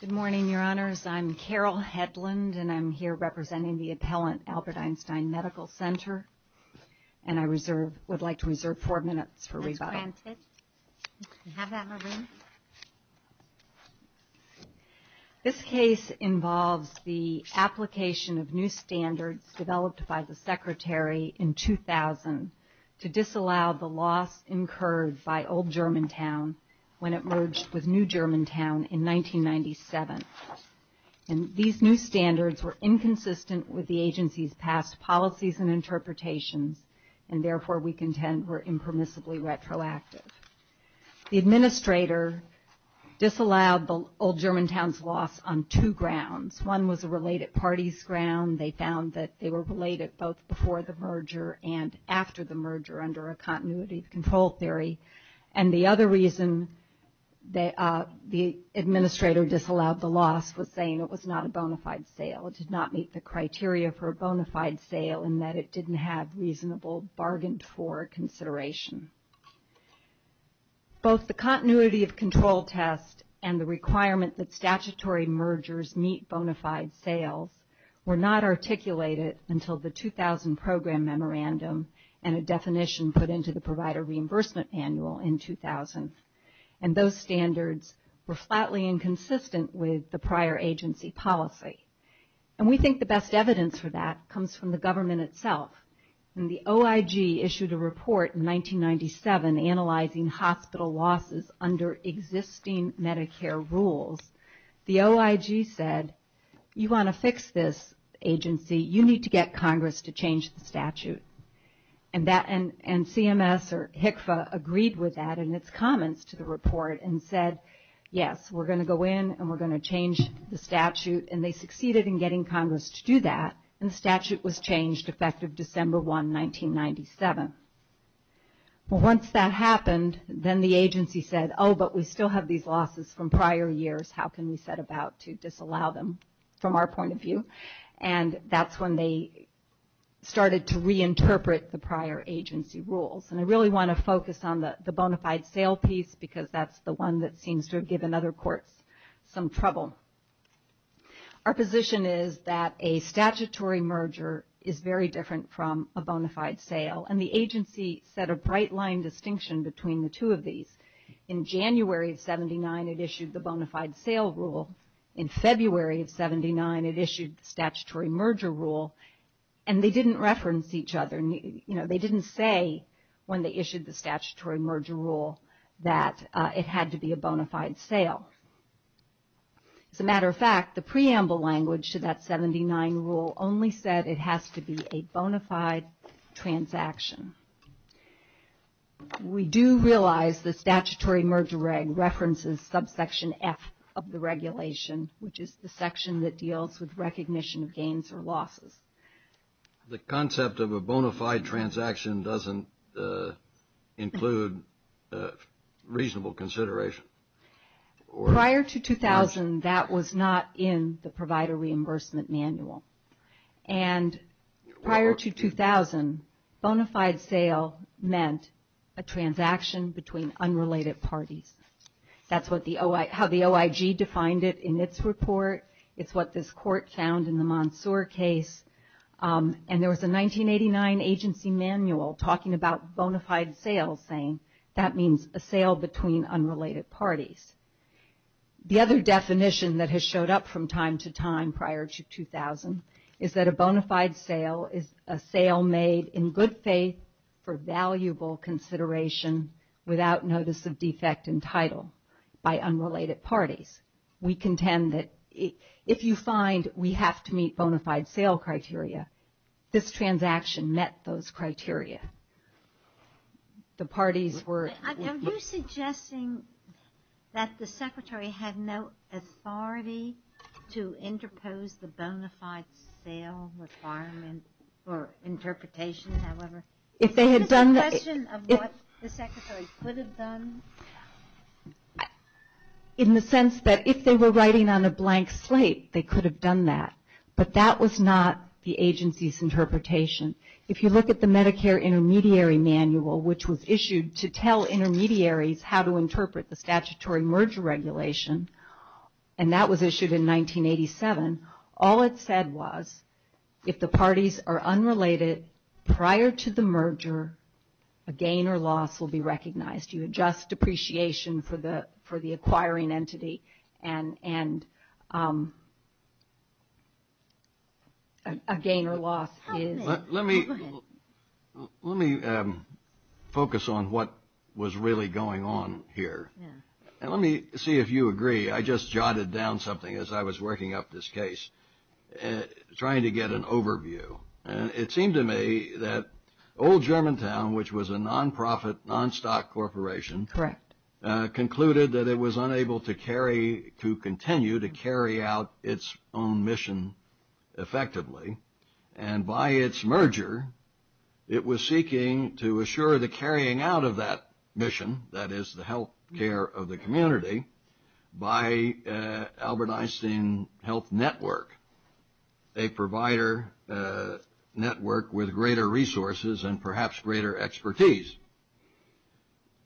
Good morning, Your Honors. I'm Carol Hedlund, and I'm here representing the appellant Albert Einstein Medical Center, and I would like to reserve four minutes for rebuttal. This case involves the application of new standards developed by the Secretary in 2000 to disallow the loss incurred by Old Germantown when it merged with New Germantown in 1997. These new standards were inconsistent with the agency's past policies and interpretations, and therefore we contend were impermissibly retroactive. The administrator disallowed the Old Germantown's loss on two grounds. One was a related parties ground. They found that they were related both before the merger and after the merger under a continuity of control theory. And the other reason the administrator disallowed the loss was saying it was not a bona fide sale. It did not meet the criteria for a bona fide sale in that it didn't have reasonable bargained for consideration. Both the continuity of control test and the requirement that statutory mergers meet bona fide sales were not articulated until the 2000 program memorandum and a definition put into the provider reimbursement annual in 2000. And those standards were flatly inconsistent with the prior agency policy. And we think the best evidence for that comes from the government itself. When the OIG issued a report in 1997 analyzing hospital losses under existing Medicare rules, the OIG said, you want to fix this agency, you need to get Congress to change the statute. And CMS or HCFA agreed with that in its comments to the report and said, yes, we're going to go in and we're going to change the statute. And they succeeded in getting Congress to do that. And the statute was changed effective December 1, 1997. Once that happened, then the agency said, oh, but we still have these losses from prior years. How can we set about to disallow them from our point of view? And that's when they started to reinterpret the prior agency rules. And I really want to focus on the bona fide sale piece because that's the one that seems to have in other courts some trouble. Our position is that a statutory merger is very different from a bona fide sale. And the agency set a bright line distinction between the two of these. In January of 79, it issued the bona fide sale rule. In February of 79, it issued the statutory merger rule. And they didn't reference each other. You know, they didn't say when they issued the sale. As a matter of fact, the preamble language to that 79 rule only said it has to be a bona fide transaction. We do realize the statutory merger reg references subsection F of the regulation, which is the section that deals with recognition of gains or losses. The concept of a bona fide transaction doesn't include reasonable consideration. Prior to 2000, that was not in the Provider Reimbursement Manual. And prior to 2000, bona fide sale meant a transaction between unrelated parties. That's how the OIG defined it in its report. It's what this court found in the Monsoor case. And there was a 1989 agency manual talking about bona fide sales saying that means a sale between unrelated parties. The other definition that has showed up from time to time prior to 2000 is that a bona fide sale is a sale made in good faith for valuable consideration without notice of defect in title by unrelated parties. We contend that if you find we have to meet bona fide sale criteria, this transaction met those criteria. The parties were... Are you suggesting that the Secretary had no authority to interpose the bona fide sale requirement for interpretation, however? If they had done... Is this a question of what the Secretary could have done? In the sense that if they were writing on a blank slate, they could have done that. But that was not the agency's interpretation. If you look at the Medicare Intermediary Manual, which was issued to tell intermediaries how to interpret the statutory merger regulation, and that was issued in 1987, all it said was if the parties are unrelated prior to the merger, a gain or loss will be recognized. You adjust depreciation for the acquiring entity and a gain or loss is... Let me focus on what was really going on here. Let me see if you agree. I just jotted down something as I was working up this case, trying to get an overview. It seemed to me that old Germantown, which was a non-profit, non-stock corporation, concluded that it was unable to continue to carry out its own mission effectively. And by its merger, it was seeking to assure the carrying out of that mission, that is the health care of the community, by Albert Einstein Health Network, a provider network with greater resources and perhaps greater expertise.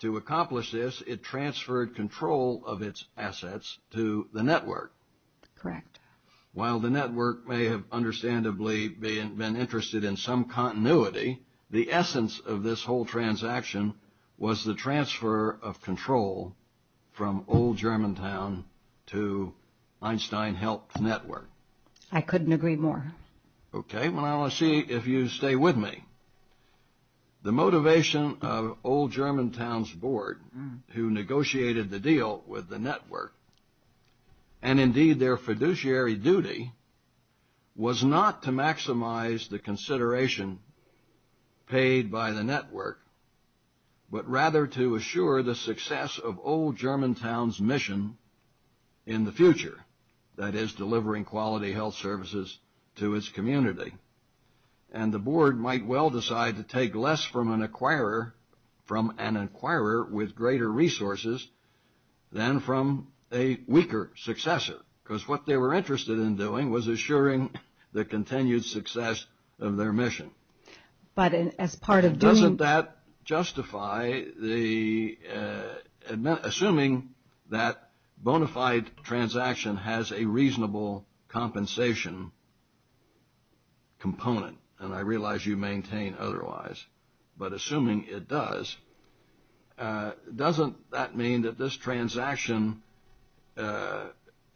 To accomplish this, it transferred control of its assets to the network. Correct. While the network may have understandably been interested in some continuity, the essence of I couldn't agree more. Okay. Well, I want to see if you stay with me. The motivation of old Germantown's board, who negotiated the deal with the network, and indeed their fiduciary duty, was not to maximize the consideration paid by the network, but rather to assure the success of old Germantown by transferring quality health services to its community. And the board might well decide to take less from an acquirer with greater resources than from a weaker successor, because what they were interested in doing was assuring the continued success of their mission. But as part of doing... Assuming that bona fide transaction has a reasonable compensation component, and I realize you maintain otherwise, but assuming it does, doesn't that mean that this transaction, the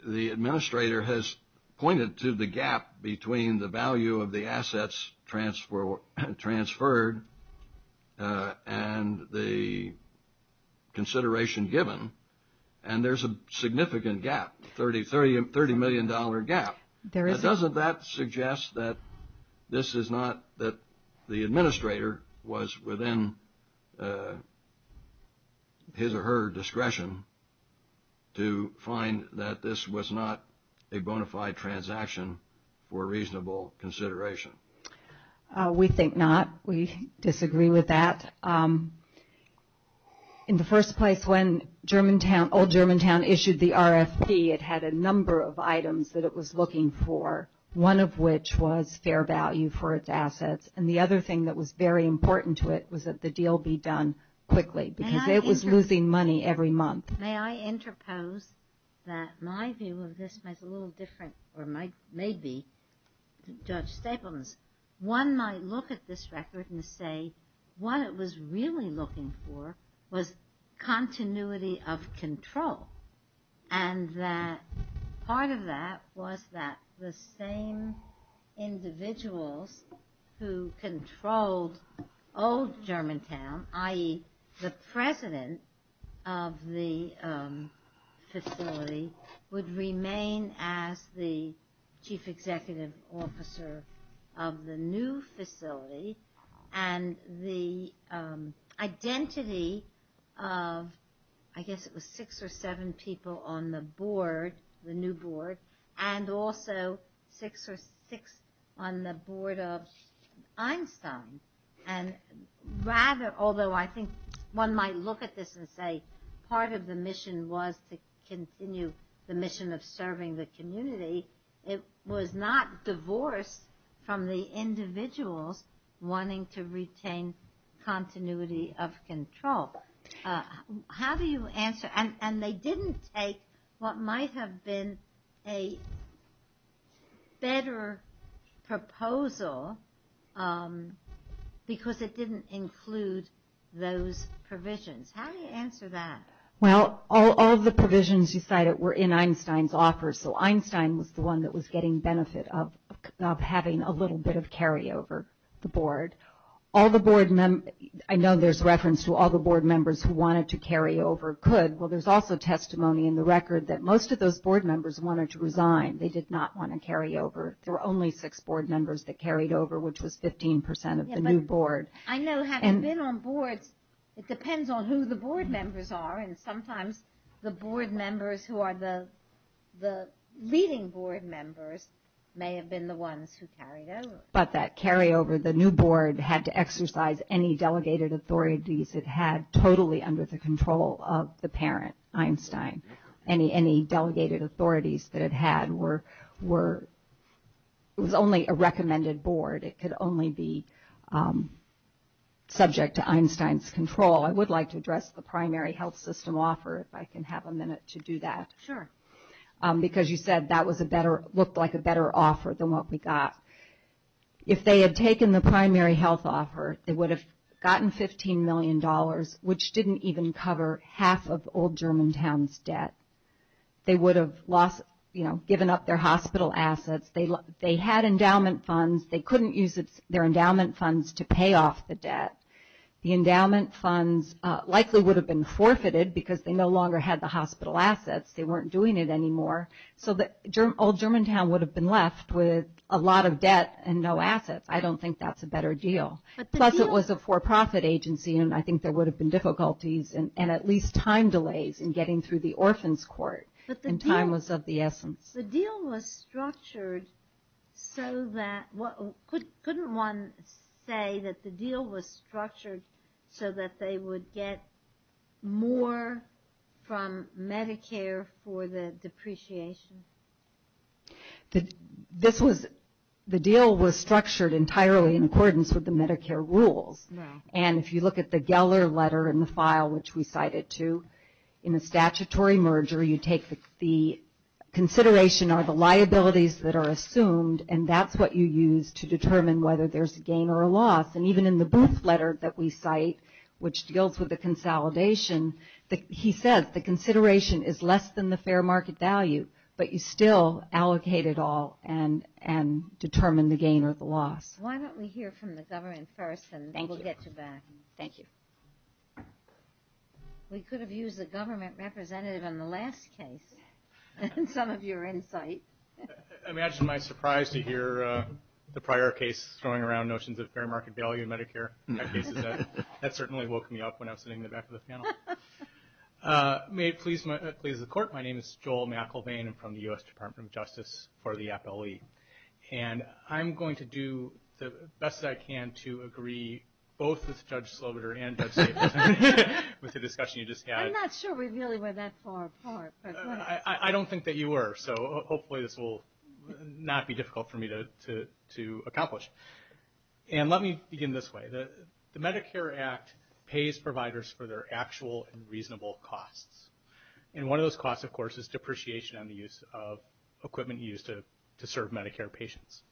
administrator has pointed to the gap between the value of the assets transferred and the consideration given, and there's a significant gap, 30 million dollar gap. Doesn't that suggest that this is not that the administrator was within his or her discretion to find that this was not a bona fide transaction for reasonable consideration? We think not. We disagree with that. In the first place, when old Germantown issued the RFP, it had a number of items that it was looking for, one of which was fair value for its assets, and the other thing that was very important to it was that the deal be done quickly, because it was losing money every month. May I interpose that my view of this was a little different, or my maybe, Judge Stapleman's. One might look at this record and say what it was really looking for was continuity of control, and that part of that was that the same individuals who controlled old Germantown, i.e. the president of the facility, would remain as the chief executive officer of the new facility, and the identity of, I guess it was six or seven people on the board, the new board, and also six or six on the board of Einstein. And rather, although I think one might look at this and say part of the mission was to continue the mission of serving the community, it was not divorced from the individuals wanting to retain continuity of control. How do you answer, and they didn't take what might have been a better proposal because it didn't include those provisions. How do you answer that? Well, all of the provisions you cited were in Einstein's offer, so Einstein was the one that was getting benefit of having a little bit of carryover the board. All the board members, I know there's reference to all the board members who wanted to carry over could. Well, there's also testimony in the record that most of those board members wanted to resign. They did not want to carry over. There were only six board members that carried over, which was 15 percent of the new board. I know having been on boards, it depends on who the board members are, and sometimes the board members who are the leading board members may have been the ones who carried over. But that carryover, the new board had to exercise any delegated authorities it had totally under the control of the parent, Einstein. Any delegated authorities that it had were, it was only a recommended board. It could only be subject to Einstein's control. I would like to address the primary health system offer if I can a minute to do that. Because you said that looked like a better offer than what we got. If they had taken the primary health offer, they would have gotten $15 million, which didn't even cover half of old Germantown's debt. They would have given up their hospital assets. They had endowment funds. They couldn't use their endowment funds to pay off the debt. The endowment funds likely would have been forfeited because they no longer had the hospital assets. They weren't doing it anymore. So old Germantown would have been left with a lot of debt and no assets. I don't think that's a better deal. Plus it was a for-profit agency, and I think there would have been difficulties and at least time delays in getting through the orphans court, and time was of the essence. The deal was structured so that, couldn't one say that the deal was structured so that they would get more from Medicare for the depreciation? This was, the deal was structured entirely in accordance with the Medicare rules. And if you look at the Geller letter in the file, which we cited too, in a statutory merger, you take the consideration are the liabilities that are assumed, and that's what you use to cite, which deals with the consolidation. He says the consideration is less than the fair market value, but you still allocate it all and determine the gain or the loss. Why don't we hear from the government first, and we'll get you back. Thank you. We could have used the government representative in the last case in some of your insight. I mean, I just am surprised to hear the prior case throwing around notions of fair market value Medicare. That certainly woke me up when I was sitting in the back of the panel. May it please the court, my name is Joel McElvain. I'm from the U.S. Department of Justice for the Appellee. And I'm going to do the best that I can to agree both with Judge Slobider and Judge Staples with the discussion you just had. I'm not sure we really went that far apart. I don't think that you were, so hopefully this will not be difficult for me to accomplish. And let me begin this way. The Medicare Act pays providers for their actual and reasonable costs. And one of those costs, of course, is depreciation on the use of equipment used to serve Medicare patients.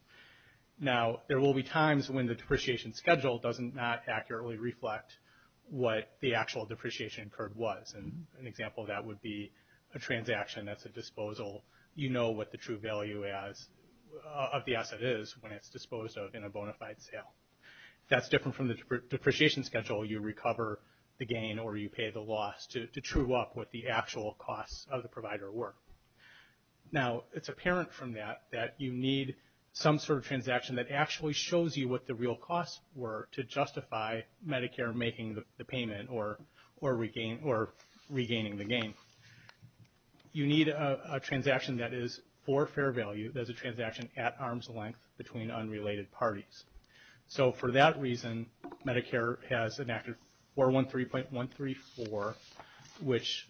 Now, there will be times when the depreciation schedule does not accurately reflect what the actual depreciation incurred was. And an example of that would be a transaction that's you know what the true value of the asset is when it's disposed of in a bona fide sale. If that's different from the depreciation schedule, you recover the gain or you pay the loss to true up what the actual costs of the provider were. Now, it's apparent from that that you need some sort of transaction that actually shows you what the real costs were to justify Medicare making the payment or regaining the gain. You need a transaction that is for fair value. There's a transaction at arm's length between unrelated parties. So for that reason, Medicare has enacted 413.134, which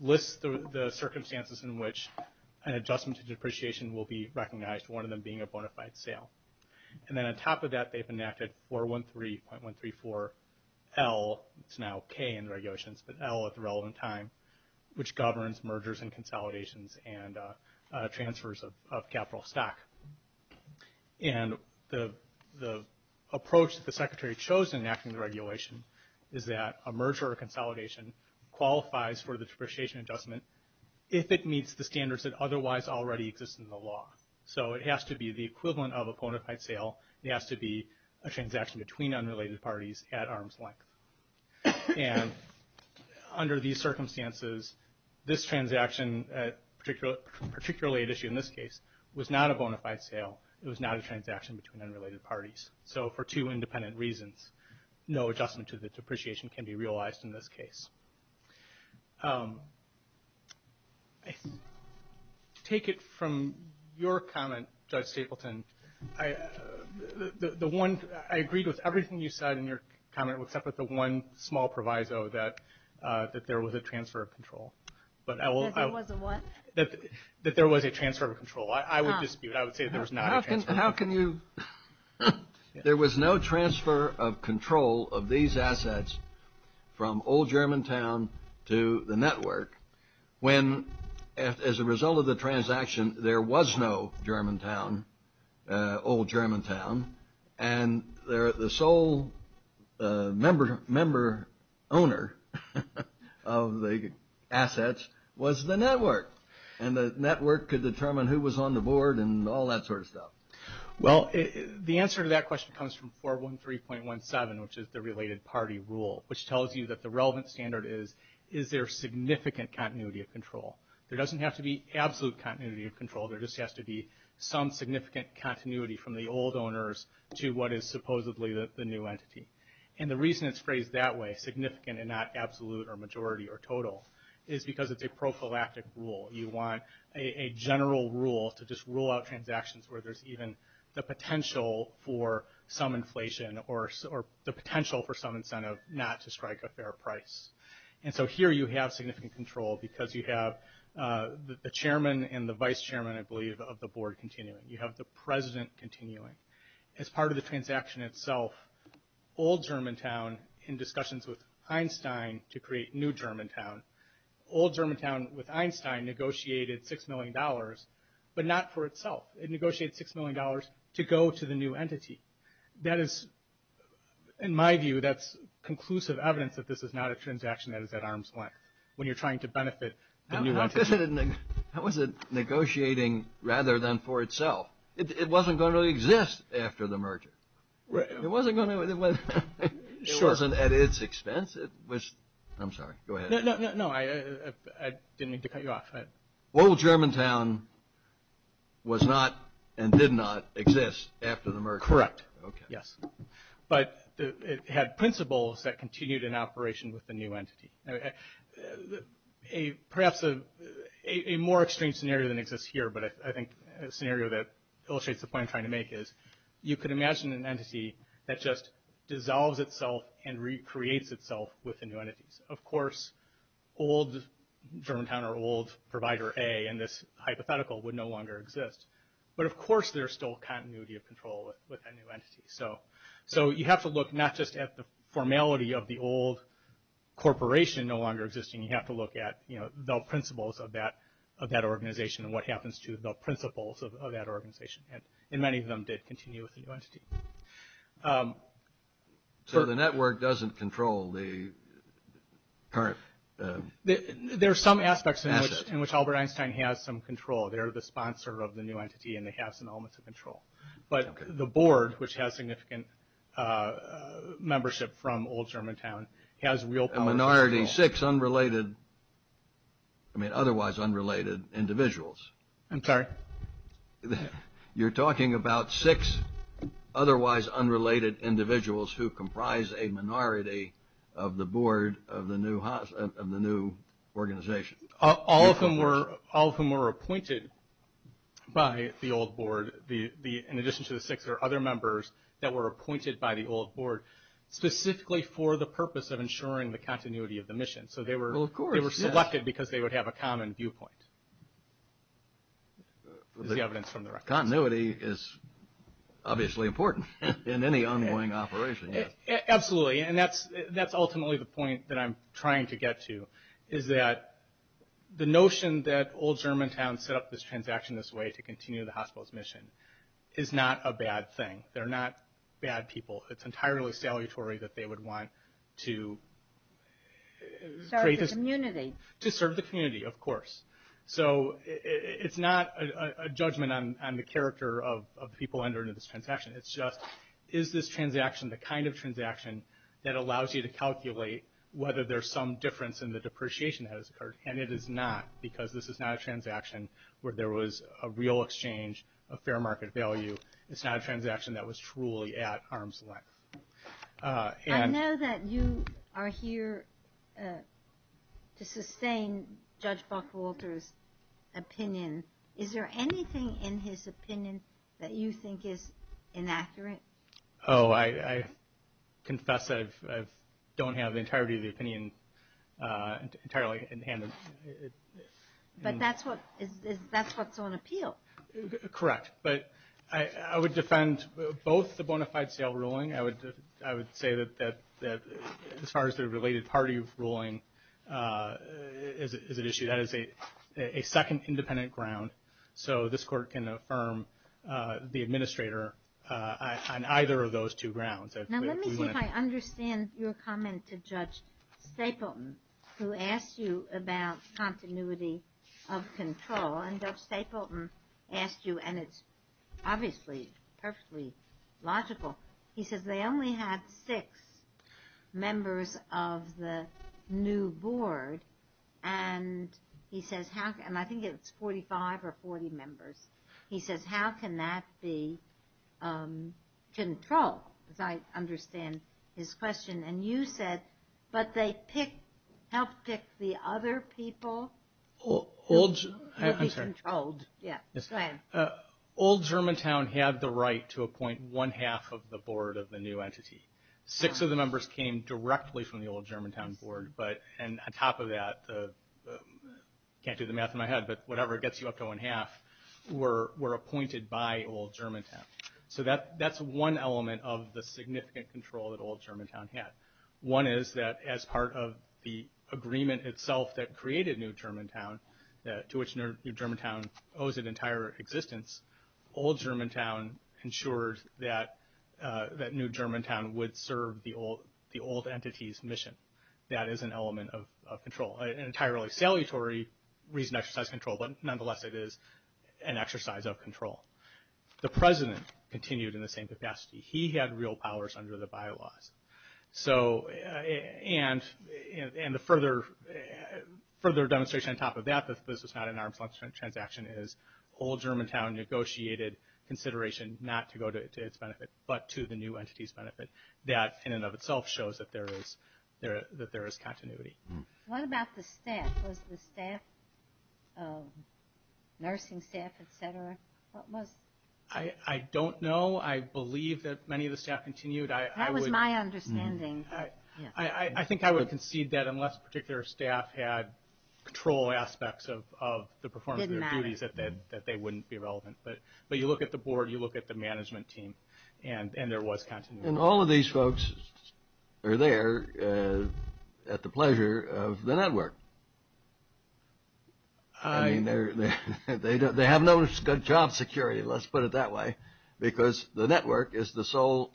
lists the circumstances in which an adjustment to depreciation will be recognized, one of them being a bona fide sale. And then on top of that, they've enacted 413.134L, it's now K in the regulations, but L at the relevant time, which governs mergers and consolidations and transfers of capital stock. And the approach that the Secretary chose in enacting the regulation is that a merger or consolidation qualifies for the depreciation adjustment if it meets the standards that otherwise already exist in the law. So it has to be the equivalent of a bona fide sale. It has to be a transaction between unrelated parties at arm's length. And under these circumstances, this transaction, particularly at issue in this case, was not a bona fide sale. It was not a transaction between unrelated parties. So for two independent reasons, no adjustment to the depreciation can be realized in this case. Take it from your comment, Judge Stapleton, I, the one, I agreed with everything you said in your comment, except with the one small proviso that, that there was a transfer of control. But I will, that there was a transfer of control. I would dispute, I would say that there was not a transfer of control. How can you, there was no transfer of control of these assets from old Germantown to the network when, as a result of the transaction, there was no Germantown, old Germantown, and the sole member owner of the assets was the network. And the network could determine who was on the board and all that sort of stuff. Well, the answer to that question comes from 413.17, which is the related party rule, which tells you that the relevant standard is, is there significant continuity of control? There doesn't have to be absolute continuity of control. There just has to be some significant continuity from the old owners to what is supposedly the new entity. And the reason it's phrased that way, significant and not absolute or majority or total, is because it's a prophylactic rule. You want a general rule to just rule out transactions where there's even the potential for some inflation or the potential for some incentive not to strike a fair price. And so here you have significant control because you have the chairman and the vice chairman, I believe, of the board continuing. You have the president continuing. As part of the transaction itself, old Germantown, in discussions with Einstein to create new Germantown, old Germantown with Einstein negotiated $6 million, but not for itself. It negotiated $6 million to go to the new at arm's length when you're trying to benefit. How was it negotiating rather than for itself? It wasn't going to exist after the merger. It wasn't at its expense. I'm sorry. Go ahead. No, no, no. I didn't mean to cut you off. Old Germantown was not and did not exist after the merger. Correct. Yes. But it had principles that continued in operation with entity. Perhaps a more extreme scenario than exists here, but I think a scenario that illustrates the point I'm trying to make is you could imagine an entity that just dissolves itself and recreates itself with the new entities. Of course, old Germantown or old provider A in this hypothetical would no longer exist, but of course there's still continuity of control with that new entity. So you have to look not just at the formality of the old corporation no longer existing. You have to look at the principles of that organization and what happens to the principles of that organization. And many of them did continue with the new entity. So the network doesn't control the current asset? There's some aspects in which Albert Einstein has some control. They're the significant membership from old Germantown. He has real power. A minority, six unrelated, I mean otherwise unrelated individuals. I'm sorry. You're talking about six otherwise unrelated individuals who comprise a minority of the board of the new organization. All of them were appointed by the old board. In addition to the six, there are other members that were appointed by the old board specifically for the purpose of ensuring the continuity of the mission. So they were selected because they would have a common viewpoint. Continuity is obviously important in any ongoing operation. Absolutely. And that's ultimately the point that I'm trying to get to is that the notion that old Germantown set up this transaction this way to continue the hospital's mission is not a bad thing. They're not bad people. It's entirely salutary that they would want to serve the community of course. So it's not a judgment on the character of the people under this transaction. It's just is this transaction the kind of transaction that allows you to calculate whether there's some difference in the depreciation that has occurred. And it is not because this is not a transaction where there was a real exchange of fair market value. It's not a transaction that was truly at arm's length. I know that you are here to sustain Judge Buckwalter's opinion. Is there anything in his opinion that you think is inaccurate? Oh, I confess that I don't have the entirety of the opinion entirely in hand. But that's what's on appeal. Correct. But I would defend both the bona fide sale ruling. I would say that as far as the related party ruling is at issue, that is a second independent ground. So this court can affirm the administrator on either of those two grounds. Now let me see if I understand your comment to Judge Stapleton who asked you about continuity of control. And Judge Stapleton asked you, and it's obviously perfectly logical, he says they only had six members of the new board. And he says, and I think it's 45 or 40 members. He says, how can that be controlled? Because I understand his question. And you said, but they picked, helped pick the other people who would be controlled. Yeah, go ahead. Old Germantown had the right to appoint one half of the board of the new entity. Six of the members came directly from the Old Germantown board. And on top of that, can't do the math in my head, but whatever gets you up to one half, were appointed by Old Germantown. So that's one element of the significant control that Old Germantown had. One is that as part of the agreement itself that created New Germantown, to which New Germantown an entire existence, Old Germantown ensured that New Germantown would serve the old entity's mission. That is an element of control. An entirely salutary reason to exercise control, but nonetheless it is an exercise of control. The president continued in the same capacity. He had real powers under the bylaws. So, and the further demonstration on top of that, this is not an arm's length transaction, is Old Germantown negotiated consideration not to go to its benefit, but to the new entity's benefit. That in and of itself shows that there is continuity. What about the staff? Was the staff, nursing staff, et cetera, what was? I don't know. I believe that many of the staff continued. That was my understanding. I think I would concede that unless a particular staff had control aspects of the performance of their duties that they wouldn't be relevant. But you look at the board, you look at the management team, and there was continuity. And all of these folks are there at the pleasure of the network. They have no job security, let's put it that way, because the network is the sole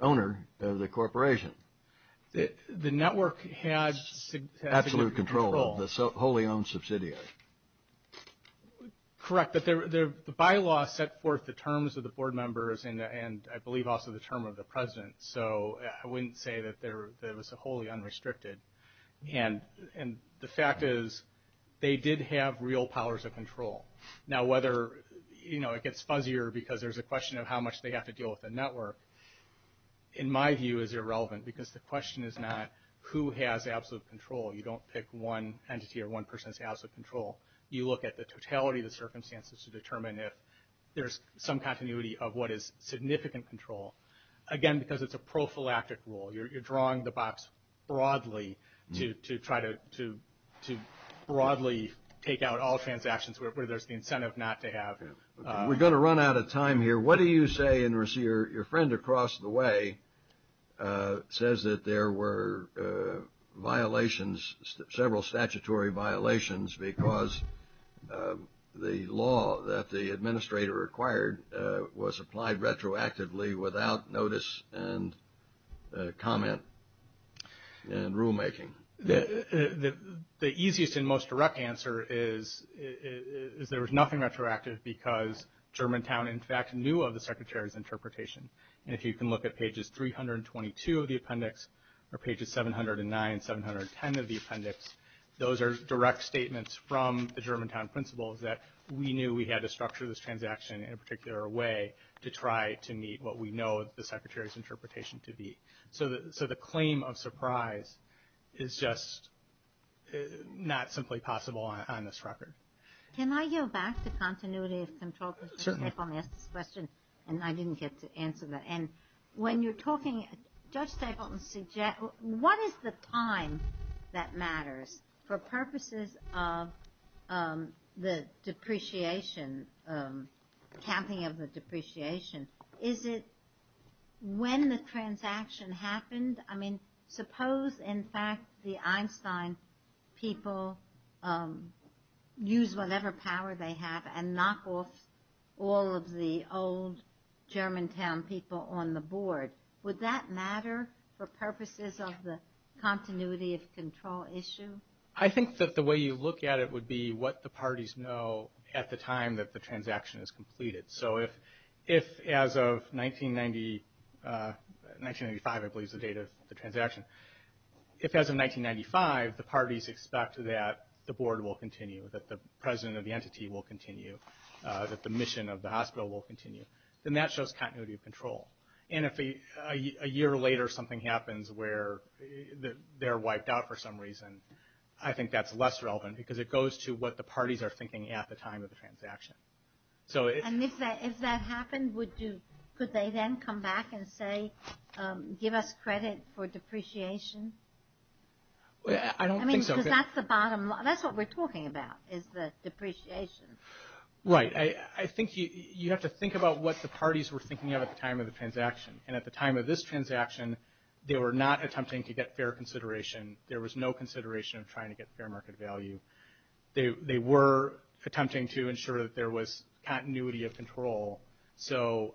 owner of the corporation. The network has absolute control, the wholly owned subsidiary. Correct. But the bylaws set forth the terms of the board members and I believe also the term of the president. So, I wouldn't say that there was a wholly unrestricted. And the fact is they did have real powers of control. Now, whether it gets fuzzier because there's a question of how much they have to deal with the network, in my view, is irrelevant because the question is not who has absolute control. You don't pick one entity or one person who has absolute control. You look at the totality of the circumstances to determine if there's some continuity of what is significant control. Again, because it's a prophylactic rule. You're drawing the box broadly to try to broadly take out all transactions where there's the incentive not to have. We're going to run out of time here. What do you say, and your friend across the way says that there were violations, several statutory violations, because the law that the administrator acquired was applied retroactively without notice and comment and rulemaking? The easiest and most direct answer is there was nothing retroactive because Germantown, in fact, knew of the Secretary's interpretation. And if you can look at pages 322 of the appendix or pages 709, 710 of the appendix, those are direct statements from the Germantown principles that we knew we had to structure this transaction in a particular way to try to meet what we know the Secretary's interpretation to be. So, the claim of surprise is just not simply possible on this record. Can I go back to continuity of control? Certainly. I didn't get to answer that. And when you're talking, Judge Stapleton suggests, what is the time that matters for purposes of the depreciation, counting of the depreciation? Is it when the transaction happened? I mean, suppose, in fact, the Einstein people use whatever power they have and knock off all of the old Germantown people on the board. Would that matter for purposes of the continuity of control issue? I think that the way you look at it would be what the parties know at the time that the transaction is completed. So, if as of 1995, I believe is the date of the transaction, if as of 1995, the parties expect that the board will continue, that the president of the entity will continue, that the mission of the hospital will continue, then that shows continuity of control. And if a year later something happens where they're wiped out for some reason, I think that's less relevant because it goes to what the parties are thinking at the time of the transaction. And if that happened, could they then come back and say, give us credit for depreciation? I don't think so. Because that's the bottom line. That's what we're talking about is the depreciation. Right. I think you have to think about what the parties were thinking of at the time of the transaction. And at the time of this transaction, they were not attempting to get fair consideration. There was no consideration of trying to get fair market value. They were attempting to ensure that there was continuity of control. So,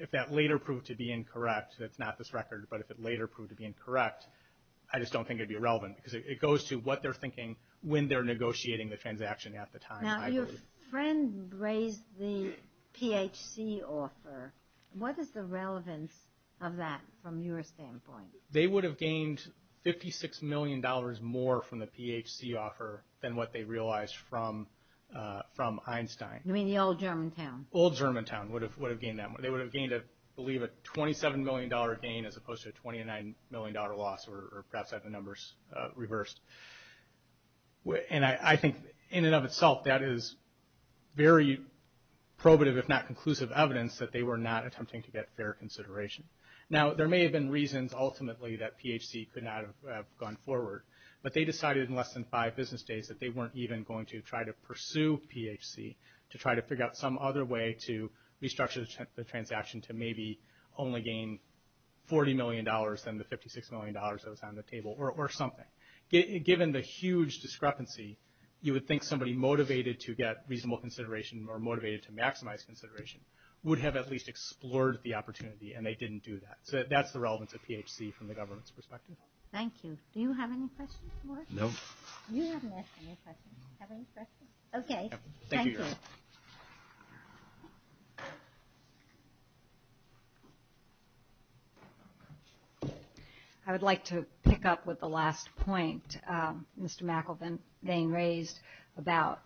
if that later proved to be incorrect, that's not this record, but if it later proved to be incorrect, I just don't think it'd be relevant because it goes to what they're thinking when they're negotiating the transaction at the time. Now, your friend raised the PHC offer. What is the relevance of that from your standpoint? They would have gained $56 million more from the PHC offer than what they realized from Einstein. You mean the old Germantown? Old Germantown would have gained that. They would have gained, I believe, a $27 million gain as opposed to a $29 million loss, or perhaps I have the numbers reversed. And I think in and of itself, that is very probative, if not conclusive evidence that they were not attempting to get fair consideration. Now, there may have been reasons ultimately that PHC could not have gone forward, but they decided in less than five business days that they weren't even going to try to pursue PHC to try to figure out some other way to restructure the transaction to maybe only gain $40 million than the $56 million that was on the table, or something. Given the huge discrepancy, you would think somebody motivated to get reasonable consideration or motivated to maximize consideration would have at least explored the opportunity, and they didn't do that. So that's the relevance of PHC from the government's perspective. Thank you. Do you have any questions, Morris? No. You haven't asked any questions. Have any questions? Okay. Thank you. I would like to pick up with the last point Mr. McElveen raised about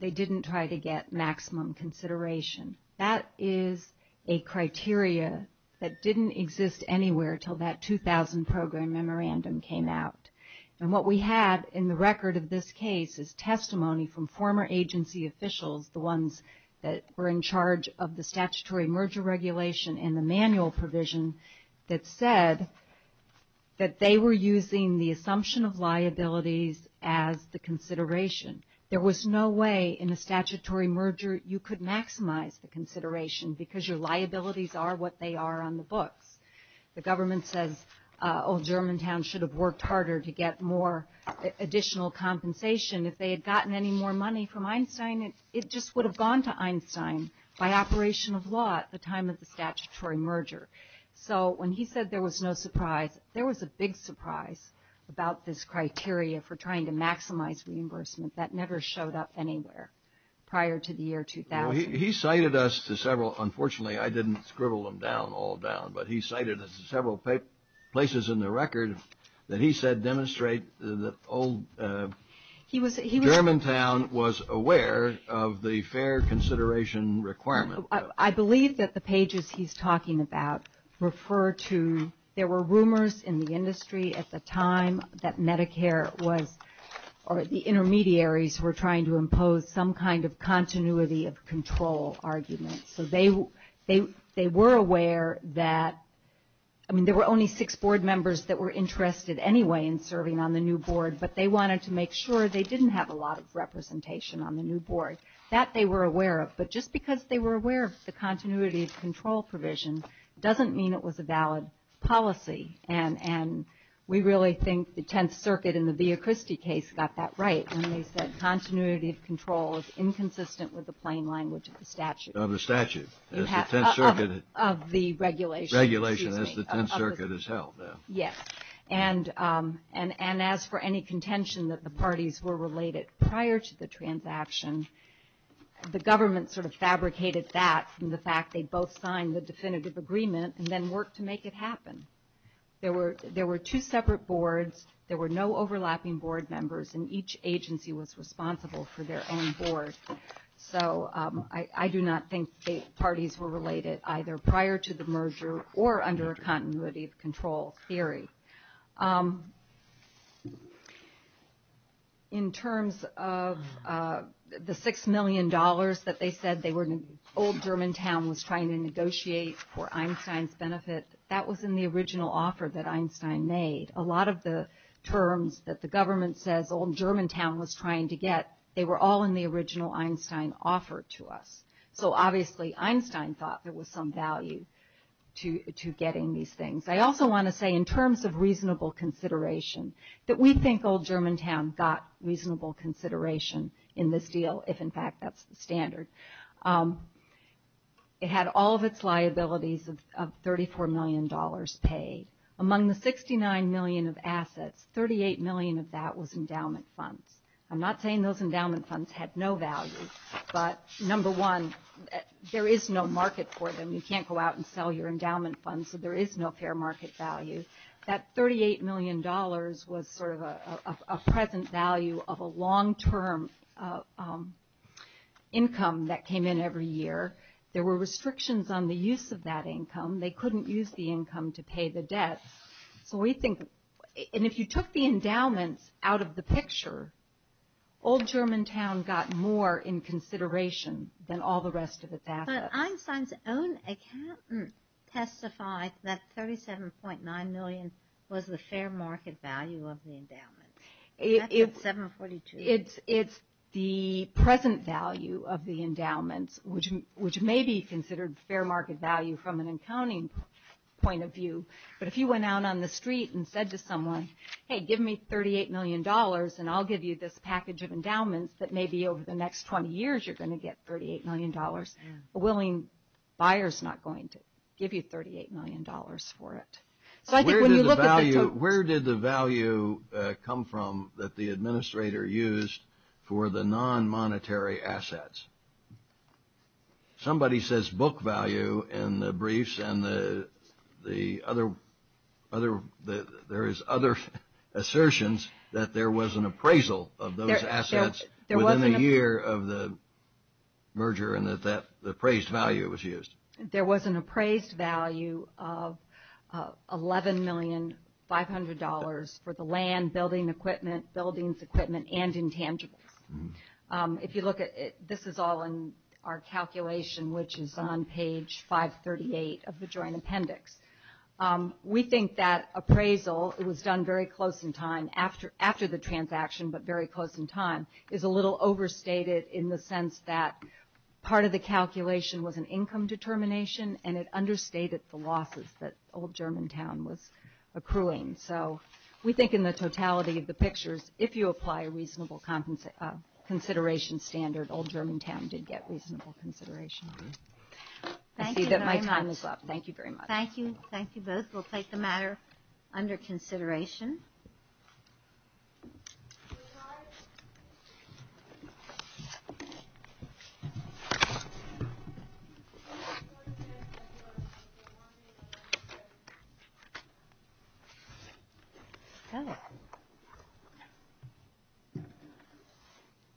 they didn't try to get maximum consideration. That is a criteria that didn't exist anywhere until that 2000 program memorandum came out. And what we have in the record of this case is testimony from former agency officials, the ones that were in charge of the statutory merger regulation and the manual provision that said that they were using the assumption of liabilities as the consideration. There was no way in a statutory merger you could maximize the consideration because your liabilities are what they are on the books. The government says, oh, Germantown should have worked harder to get more additional compensation. If they had gotten any more money from Einstein, it just would have gone to Einstein by operation of law at the time of the statutory merger. So when he said there was no surprise, there was a big surprise about this criteria for trying to maximize reimbursement that never showed up anywhere prior to the year 2000. He cited us to several, unfortunately I didn't scribble them down all down, but he cited us to several places in the record that he said demonstrate that old Germantown was aware of the fair consideration requirement. I believe that the pages he's talking about refer to, there were rumors in the industry at the time that Medicare was, or the intermediaries were trying to impose some kind of There were only six board members that were interested anyway in serving on the new board, but they wanted to make sure they didn't have a lot of representation on the new board. That they were aware of, but just because they were aware of the continuity of control provision doesn't mean it was a valid policy. And we really think the Tenth Circuit in the Via Christi case got that right when they said continuity of control is inconsistent with the plain language of the statute. Of the regulation. Regulation as the Tenth Circuit has held. Yes. And as for any contention that the parties were related prior to the transaction, the government sort of fabricated that from the fact they both signed the definitive agreement and then worked to make it happen. There were two separate boards, there were no overlapping board members, and each agency was responsible for their own board. So I do not think the parties were related either prior to the merger or under a continuity of control theory. In terms of the $6 million that they said they were, Old Germantown was trying to negotiate for Einstein's benefit, that was in the original offer that Einstein made. A lot of the terms that the government says Old Germantown was trying to get, they were all in the original Einstein offer to us. So obviously Einstein thought there was some value to getting these things. I also want to say in terms of reasonable consideration, that we think Old Germantown got reasonable consideration in this deal, if in fact that's the standard. It had all of its liabilities of $34 million paid. Among the $69 million of assets, $38 million of that was endowment funds. I'm not saying those endowment funds had no value, but number one, there is no market for them. You can't go out and sell your endowment funds, so there is no fair market value. That $38 million was sort of a present value of a long-term income that came in every year. There were restrictions on the use of that income. They couldn't use the income to pay the debt. So we think, and if you took the endowments out of the picture, Old Germantown got more in consideration than all the rest of its assets. But Einstein's own account testified that $37.9 million was the fair market value of the endowment. It's the present value of the endowments, which may be considered fair market value from an accounting point of view, but if you went out on the street and said to someone, hey, give me $38 million and I'll give you this package of endowments that maybe over the next 20 years you're going to get $38 million, a willing buyer's not going to give you $38 million for it. Where did the value come from that the administrator used for the non-monetary assets? Somebody says book value in the briefs and the other, there is other assertions that there was an appraisal of those assets within a year of the merger and that the appraised value was used. There was an appraised value of $11,500,000 for the land, building equipment, buildings, and intangibles. If you look at it, this is all in our calculation, which is on page 538 of the joint appendix. We think that appraisal, it was done very close in time after the transaction, but very close in time, is a little overstated in the sense that part of the calculation was an income determination and it understated the losses that Old Germantown was accruing. We think in the totality of the pictures, if you apply a reasonable consideration standard, Old Germantown did get reasonable consideration. I see that my time is up. Thank you very much. Thank you. Thank you both. We'll take the matter under consideration. Okay.